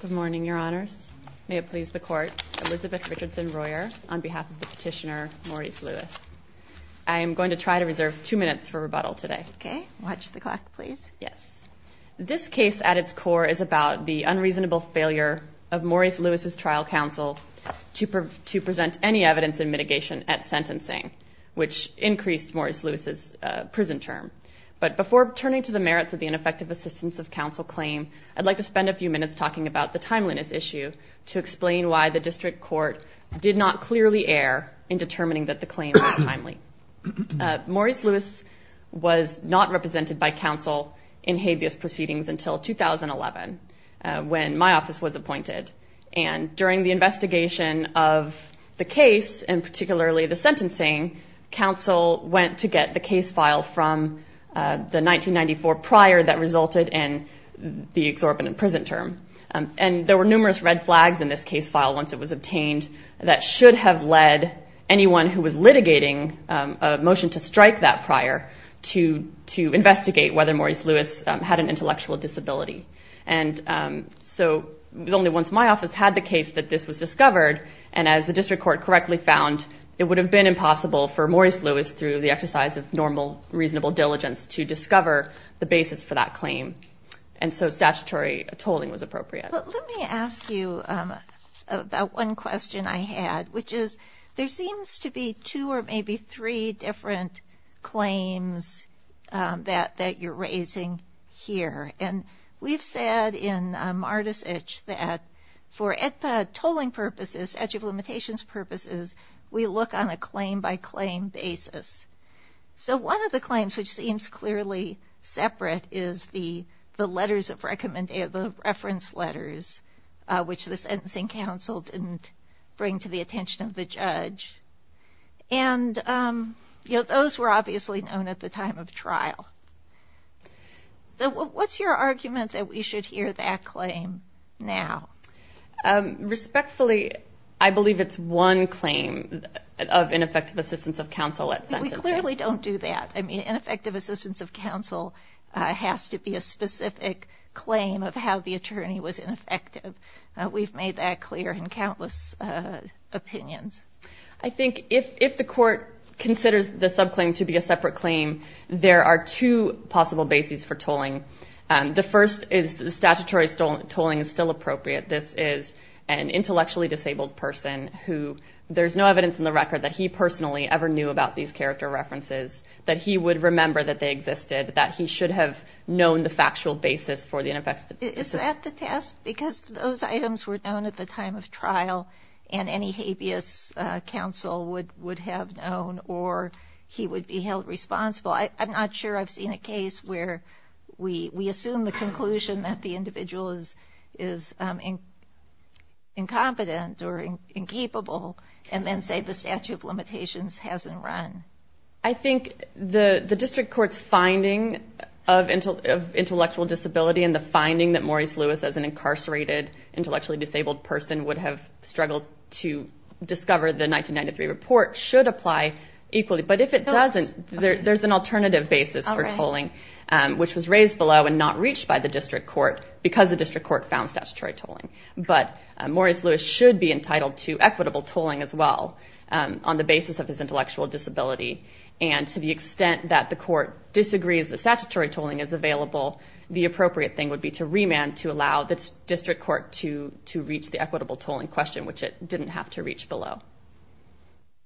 Good morning, Your Honors. May it please the Court, Elizabeth Richardson-Royer, on behalf of the petitioner, Maurice Lewis. I am going to try to reserve two minutes for rebuttal today. Okay. Watch the clock, please. Yes. This case, at its core, is about the unreasonable failure of Maurice Lewis's trial counsel to present any evidence in mitigation at sentencing, which increased Maurice Lewis's prison term. But before turning to the merits of the ineffective assistance of counsel claim, I'd like to spend a few minutes talking about the timeliness issue to explain why the District Court did not clearly err in determining that the claim was timely. Maurice Lewis was not represented by counsel in habeas proceedings until 2011, when my office was appointed. And during the investigation of the case, and particularly the sentencing, counsel went to get the case file from the 1994 prior that resulted in the exorbitant prison term. And there were numerous red flags in this case file, once it was obtained, that should have led anyone who was litigating a motion to strike that prior to investigate whether Maurice Lewis had an intellectual disability. And so, only once my office had the case that this was discovered, and as the District Court correctly found, it would have been impossible for Maurice Lewis, through the exercise of normal, reasonable diligence, to discover the basis for that claim. And so, statutory tolling was appropriate. Let me ask you about one question I had, which is, there seems to be two or maybe three different claims that you're raising here. And we've said in Marticich that for ECA tolling purposes, statute of limitations purposes, we look on a claim-by-claim basis. So, one of the claims, which seems clearly separate, is the letters of recommendation, the reference letters, which the sentencing counsel didn't bring to the attention of the judge. And, you know, those were obviously known at the time of trial. So, what's your argument that we should hear that claim now? Respectfully, I believe it's one claim of ineffective assistance of counsel at sentencing. We clearly don't do that. I mean, ineffective assistance of counsel has to be a specific claim of how the attorney was ineffective. We've made that clear in countless opinions. I think if the court considers the subclaim to be a separate claim, there are two possible bases for tolling. The first is statutory tolling is still appropriate. This is an intellectually disabled person who there's no evidence in the record that he personally ever knew about these character references, that he would remember that they existed, that he should have known the factual basis for the ineffective assistance. Is that the test? Because those items were known at the time of trial, and any habeas counsel would have known, or he would be held responsible. I'm not sure I've seen a case where we assume the conclusion that the individual is incompetent or incapable and then say the statute of limitations hasn't run. I think the district court's finding of intellectual disability and the finding that Maurice Lewis as an incarcerated, intellectually disabled person would have struggled to discover the 1993 report should apply equally. But if it doesn't, there's an alternative basis for which was raised below and not reached by the district court because the district court found statutory tolling. But Maurice Lewis should be entitled to equitable tolling as well on the basis of his intellectual disability. And to the extent that the court disagrees that statutory tolling is available, the appropriate thing would be to remand to allow the district court to reach the equitable tolling question, which it didn't have to reach below.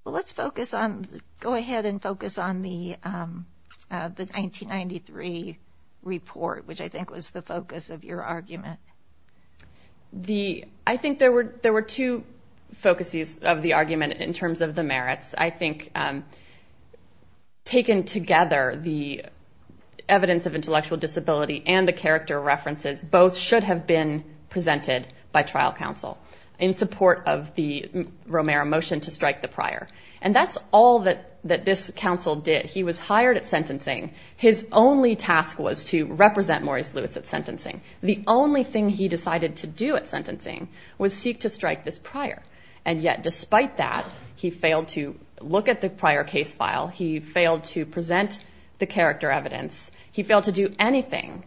Well, let's focus on, go ahead and focus on the 1993 report, which I think was the focus of your argument. I think there were two focuses of the argument in terms of the merits. I think taken together, the evidence of intellectual disability and the character references both should have been presented by trial counsel in support of the Romero motion to strike the prior. And that's all that this counsel did. He was hired at sentencing. His only task was to represent Maurice Lewis at sentencing. The only thing he decided to do at sentencing was seek to strike this prior. And yet, despite that, he failed to look at the prior case file. He failed to present the character evidence. He failed to do anything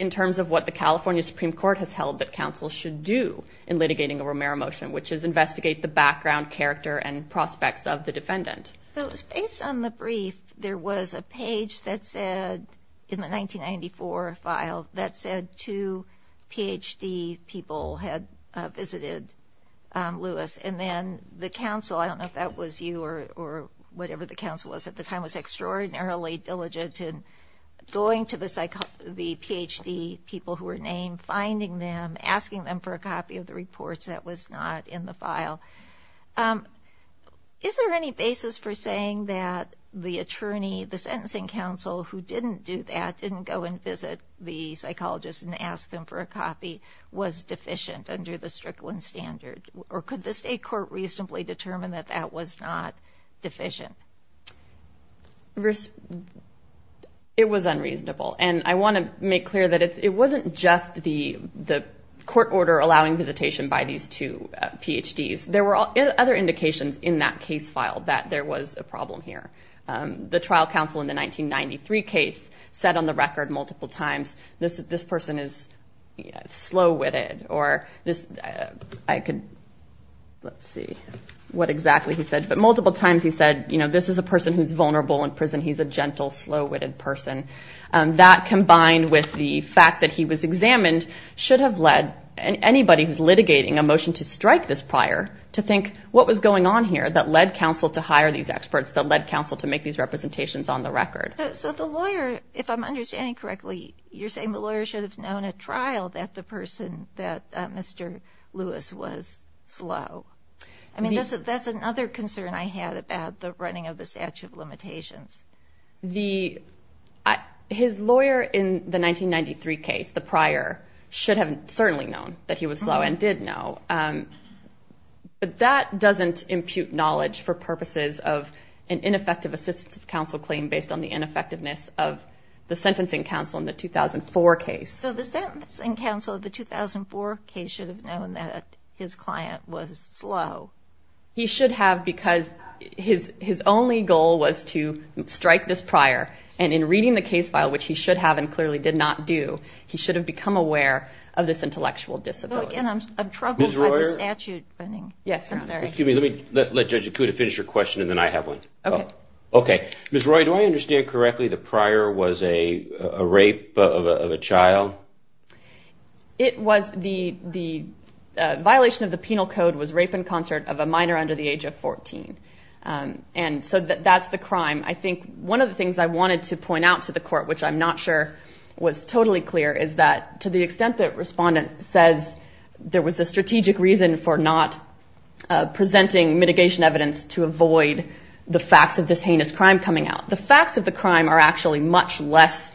in terms of what the California Supreme Court has held that counsel should do in litigating a Romero motion, which is investigate the background, character, and prospects of the defendant. So, based on the brief, there was a page that said, in the 1994 file, that said two PhD people had visited Lewis. And then the counsel, I don't know if that was you or whatever the two were named, finding them, asking them for a copy of the reports that was not in the file. Is there any basis for saying that the attorney, the sentencing counsel who didn't do that, didn't go and visit the psychologist and ask them for a copy, was deficient under the Strickland standard? Or could the state court reasonably determine that that was not deficient? It was unreasonable. And I want to make clear that it wasn't just the court order allowing visitation by these two PhDs. There were other indications in that case file that there was a problem here. The trial counsel in the 1993 case said on the record multiple times, this person is slow-witted. Or this, I could, let's see what exactly he said. But multiple times he said, this is a person who's vulnerable in prison. He's a gentle, slow-witted person. That combined with the fact that he was examined should have led anybody who's litigating a motion to strike this prior to think, what was going on here that led counsel to hire these experts, that led counsel to make these representations on the record? So the lawyer, if I'm understanding correctly, you're saying the lawyer should have known in a trial that the person, that Mr. Lewis was slow. I mean, that's another concern I had about the running of the statute of limitations. His lawyer in the 1993 case, the prior, should have certainly known that he was slow and did know. But that doesn't impute knowledge for purposes of an ineffective assistance of counsel claim based on the ineffectiveness of the sentencing counsel in the 2004 case. So the sentencing counsel of the 2004 case should have known that his client was slow. He should have because his only goal was to strike this prior. And in reading the case file, which he should have and clearly did not do, he should have become aware of this intellectual discipline. Again, I'm troubled by the statute. Ms. Royer? Yes, I'm sorry. Excuse me, let Judge Ikuda finish her question and then I have one. Okay. Ms. Royer, do I understand correctly the prior was a rape of a child? It was the violation of the penal code was rape in concert of a minor under the age of 14. And so that's the crime. I think one of the things I wanted to point out to the court, which I'm not sure was totally clear, is that to the extent that respondent says there was a strategic reason for not presenting mitigation evidence to avoid the facts of this heinous crime coming out. The facts of the crime are actually much less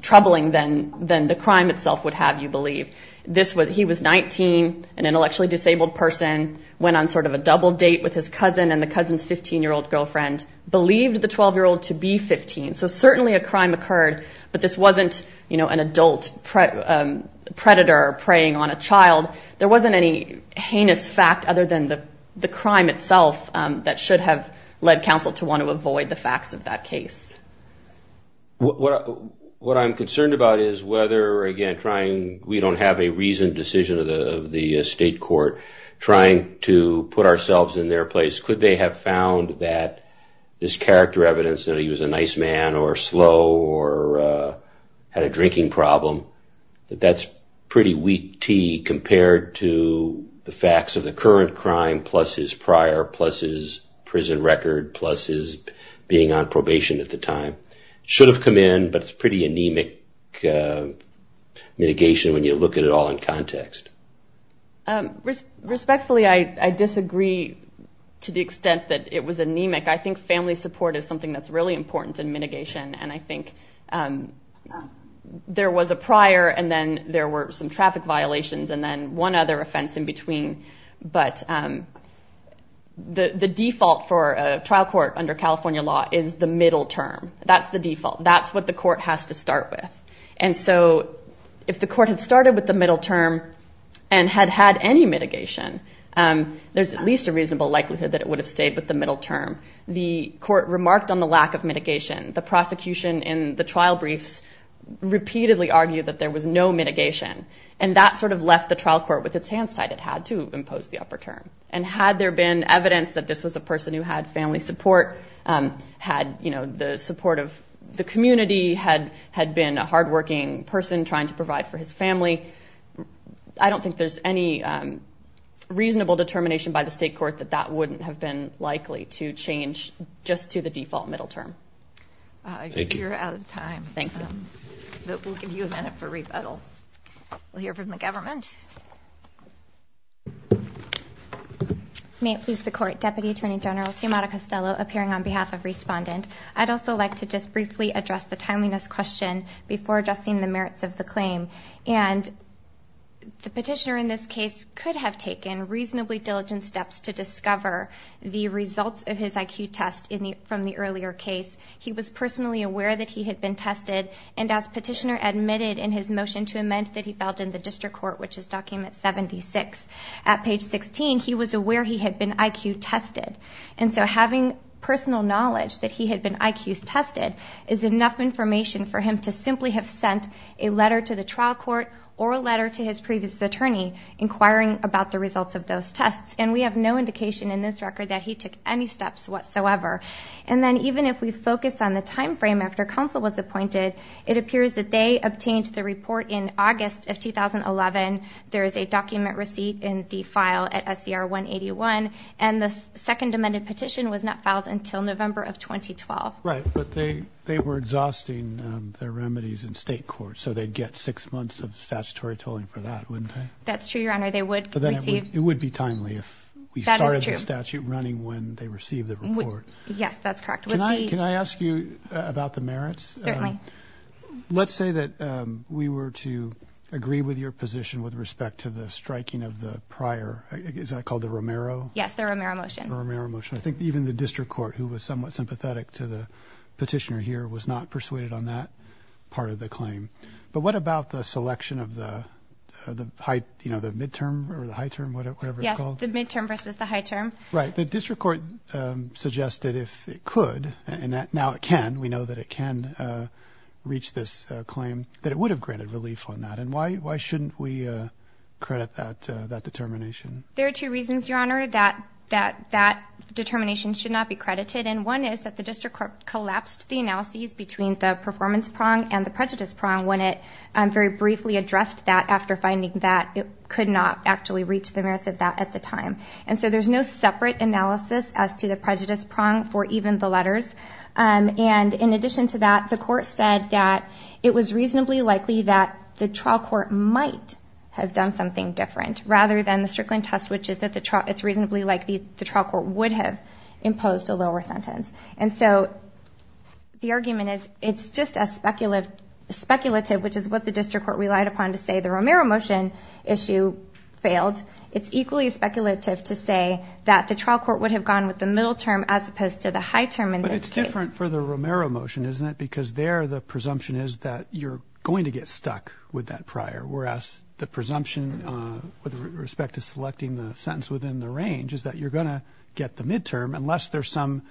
troubling than the crime itself would have, you believe. He was 19, an intellectually disabled person, went on sort of a double date with his cousin and the cousin's 15-year-old girlfriend believed the 12-year-old to be 15. So certainly a crime occurred, but this wasn't an adult predator preying on a child. There wasn't any heinous fact other than the crime itself that should have led counsel to want to avoid the facts of that case. What I'm concerned about is whether, again, we don't have a reasoned decision of the state court trying to put ourselves in their place. Could they have found that this character evidence that he was a nice man or slow or had a drinking problem, that that's pretty weak tea compared to the facts of the current crime, plus his prior, plus his prison record, plus his being on probation at the time. Should have come in, but it's pretty anemic mitigation when you look at it all in context. Respectfully, I disagree to the extent that it was anemic. I think family support is something that's really important in mitigation, and I think there was a prior and then there were some traffic violations and then one other offense in between. But the default for a trial court under California law is the middle term. That's the default. That's what the court has to start with. And so if the court had started with the middle term and had had any mitigation, there's at least a reasonable likelihood that it would have stayed with the middle term. The court remarked on the lack of mitigation. The prosecution in the trial briefs repeatedly argued that there was no mitigation, and that sort of left the trial court with its hands tied. It had to impose the upper term. And had there been evidence that this was a person who had family support, had the support of the community, had been a hardworking person trying to provide for his family, I don't think there's any reasonable determination by the state court that that wouldn't have been likely to change just to the default middle term. You're out of time. Thank you. We'll give you a minute for rebuttal. We'll hear from the government. May it please the Court. Deputy Attorney General Sumada Costello appearing on behalf of Respondent. I'd also like to just briefly address the timeliness question before addressing the merits of the claim. And the petitioner in this case could have taken reasonably diligent steps to discover the results of his IQ test from the earlier case. He was personally aware that he had been tested, and as petitioner admitted in his motion to amend that he filed in the district court, which is document 76, at page 16, he was aware he had been IQ tested. And so having personal knowledge that he had been IQ tested is enough information for him to simply have sent a letter to the trial court or a letter to his previous attorney inquiring about the results of those tests. And we have no indication in this record that he took any steps whatsoever. And then even if we focus on the time frame after counsel was appointed, it appears that they obtained the report in August of 2011. There is a document receipt in the file at SCR 181, and the second amended petition was not filed until November of 2012. Right, but they were exhausting their remedies in state court, so they'd get six months of statutory tolling for that, wouldn't they? That's true, Your Honor. They would receive... Yes, that's correct. Can I ask you about the merits? Certainly. Let's say that we were to agree with your position with respect to the striking of the prior, is that called the Romero? Yes, the Romero motion. The Romero motion. I think even the district court, who was somewhat sympathetic to the petitioner here, was not persuaded on that part of the claim. But what about the selection of the midterm or the high term, whatever it's called? Yes, the midterm versus the high term. Right. The district court suggested if it could, and now it can, we know that it can reach this claim, that it would have granted relief on that. And why shouldn't we credit that determination? There are two reasons, Your Honor, that that determination should not be credited. And one is that the district court collapsed the analyses between the performance prong and the prejudice prong when it very briefly addressed that after finding that it could not actually reach the merits of that at the time. And so there's no separate analysis as to the prejudice prong for even the letters. And in addition to that, the court said that it was reasonably likely that the trial court might have done something different rather than the Strickland test, which is that it's reasonably likely the trial court would have imposed a lower sentence. And so the argument is it's just a speculative, which is what the district court relied upon to say the Romero motion issue failed. It's equally speculative to say that the trial court would have gone with the middle term as opposed to the high term in this case. But it's different for the Romero motion, isn't it? Because there the presumption is that you're going to get stuck with that prior, whereas the presumption with respect to selecting the sentence within the range is that you're going to get the midterm unless there's some,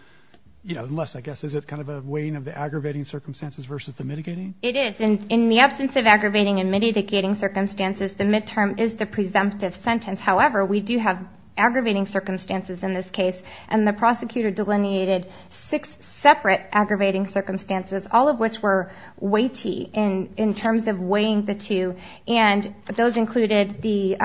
you know, unless, I guess, is it kind of a weighing of the aggravating circumstances versus the mitigating? It is. In the absence of aggravating and mitigating circumstances, the midterm is the presumptive sentence. However, we do have aggravating circumstances in this case. And the prosecutor delineated six separate aggravating circumstances, all of which were weighty in terms of weighing the two. And those included the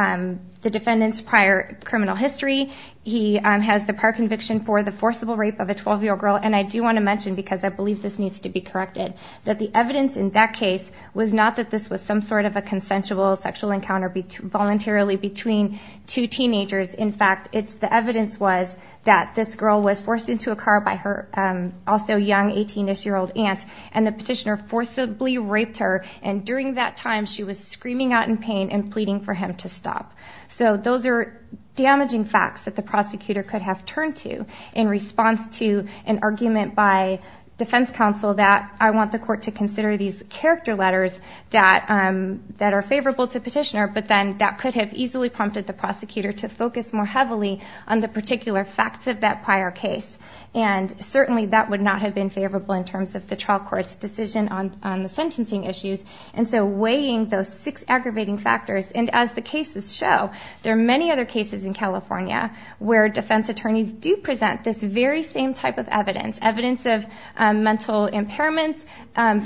defendant's prior criminal history. He has the prior conviction for the forcible rape of a 12-year-old girl. And I do want to mention, because I believe this needs to be corrected, that the evidence in that case was not that this was some sort of a consensual sexual encounter voluntarily between two teenagers. In fact, it's the evidence was that this girl was forced into a car by her also young 18-ish-year-old aunt, and the petitioner forcibly raped her. And during that time, she was screaming out in pain and pleading for him to stop. So those are damaging facts that the prosecutor could have turned to in response to an argument by defense counsel that I want the court to consider these character letters that are favorable to petitioner, but then that could have easily prompted the prosecutor to focus more heavily on the particular facts of that prior case. And certainly that would not have been favorable in terms of the trial court's decision on the sentencing issues. And so weighing those six aggravating factors, and as the cases show, there are many other cases in California where defense attorneys do present this very same type of evidence, evidence of mental impairments,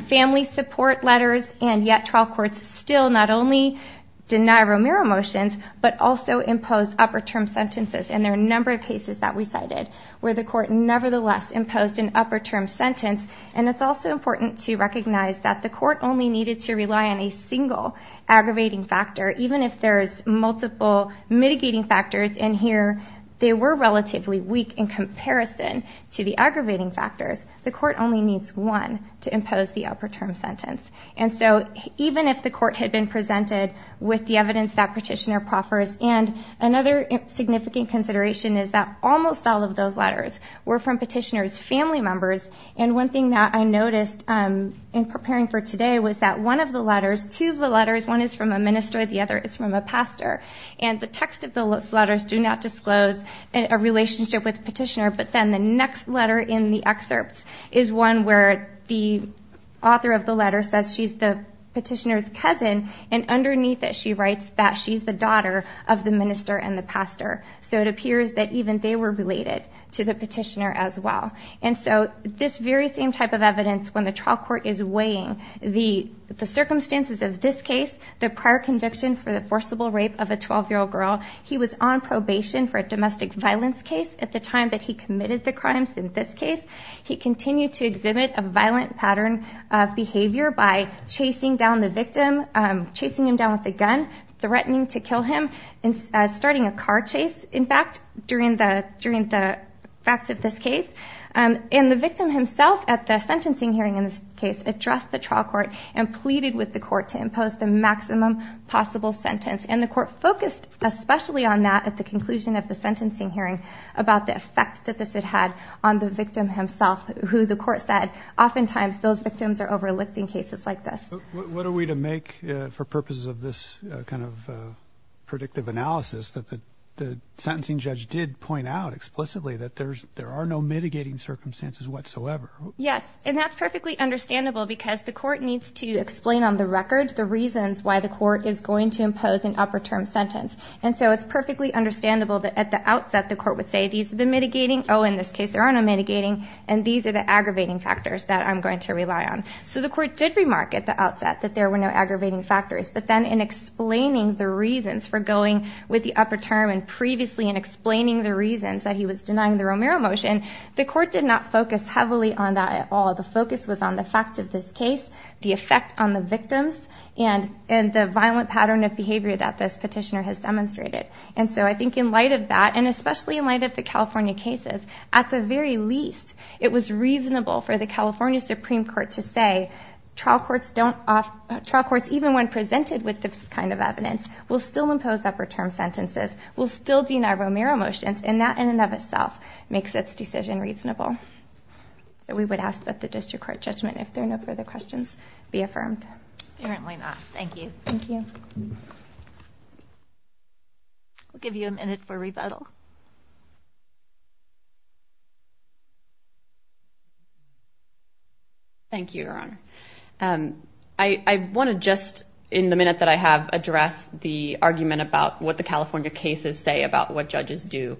family support letters, and yet trial courts still not only deny Romero motions, but also impose upper term sentences. And there are a number of cases that we cited where the court nevertheless imposed an upper term sentence. And it's also important to recognize that the court only needed to rely on a single aggravating factor. Even if there's multiple mitigating factors in here, they were relatively weak in comparison to the aggravating factors. The court only needs one to impose the upper term sentence. And so even if the court had been presented with the evidence that petitioner proffers, and another significant consideration is that almost all of those letters were from petitioner's family members. And one thing that I noticed in preparing for today was that one of the letters, two of the letters, one is from a minister, the other is from a pastor. And the text of those letters do not disclose a relationship with petitioner, but then the next letter in the excerpt is one where the author of the letter says she's the petitioner's cousin, and underneath it she writes that she's the daughter of the minister and the pastor. So it appears that even they were related to the petitioner as well. And so this very same type of evidence, when the trial court is weighing the circumstances of this case, the prior conviction for the forcible rape of a 12-year-old girl, he was on probation for a domestic violence case at the time that he committed the crimes in this case. He continued to exhibit a violent pattern of behavior by chasing down the victim, chasing him down with a gun, threatening to kill him, and starting a car chase, in fact, during the facts of this case. And the victim himself at the sentencing hearing in this case addressed the trial court and pleaded with the court to impose the maximum possible sentence. And the court focused especially on that at the conclusion of the sentencing hearing about the effect that this had had on the victim himself, who the court said oftentimes those victims are overlooked in cases like this. What are we to make for purposes of this kind of predictive analysis that the sentencing judge did point out explicitly that there are no mitigating circumstances whatsoever? Yes, and that's perfectly understandable because the court needs to explain on the record the reasons why the court is going to impose an upper term sentence. And so it's perfectly understandable that at the outset the court would say these are the mitigating, oh, in this case there are no mitigating, and these are the aggravating factors that I'm going to rely on. So the court did remark at the outset that there were no aggravating factors. But then in explaining the reasons for going with the upper term and previously in explaining the reasons that he was denying the Romero motion, the court did not focus heavily on that at all. The focus was on the facts of this case, the effect on the victims, and the violent pattern of behavior that this petitioner has demonstrated. And so I think in light of that, and especially in light of the California cases, at the very least it was reasonable for the California Supreme Court to say trial courts even when presented with this kind of evidence will still impose upper term sentences, will still deny Romero motions, and that in and of itself makes its decision reasonable. So we would ask that the district court judgment, if there are no further questions, be affirmed. Apparently not. Thank you. Thank you. We'll give you a minute for rebuttal. Thank you, Your Honor. I want to just, in the minute that I have, address the argument about what the California cases say about what judges do,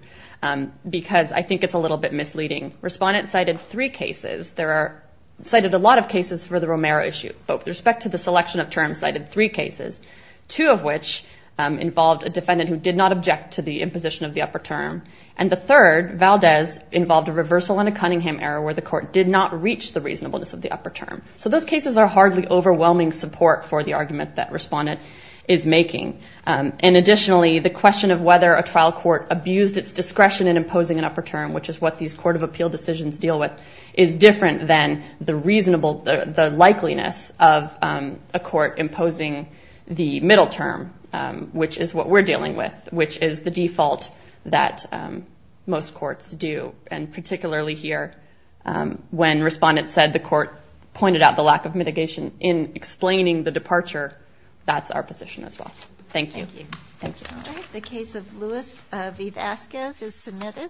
because I think it's a little bit misleading. Respondent cited three cases. There are, cited a lot of cases for the Romero issue. But with respect to the selection of terms, cited three cases, two of which involved a defendant who did not object to the imposition of the upper term. And the third, Valdez, involved a reversal and a Cunningham error where the court did not reach the reasonableness of the upper term. So those cases are hardly overwhelming support for the argument that respondent is making. And additionally, the question of whether a trial court abused its discretion in imposing an upper term, which is what these court of appeal decisions deal with, is different than the reasonable, the likeliness of a court imposing the middle term, which is what we're dealing with, which is the default that most courts do. And particularly here, when respondent said the court pointed out the lack of mitigation in explaining the departure, that's our position as well. Thank you. Thank you. All right. The case of Luis V. Vasquez is submitted.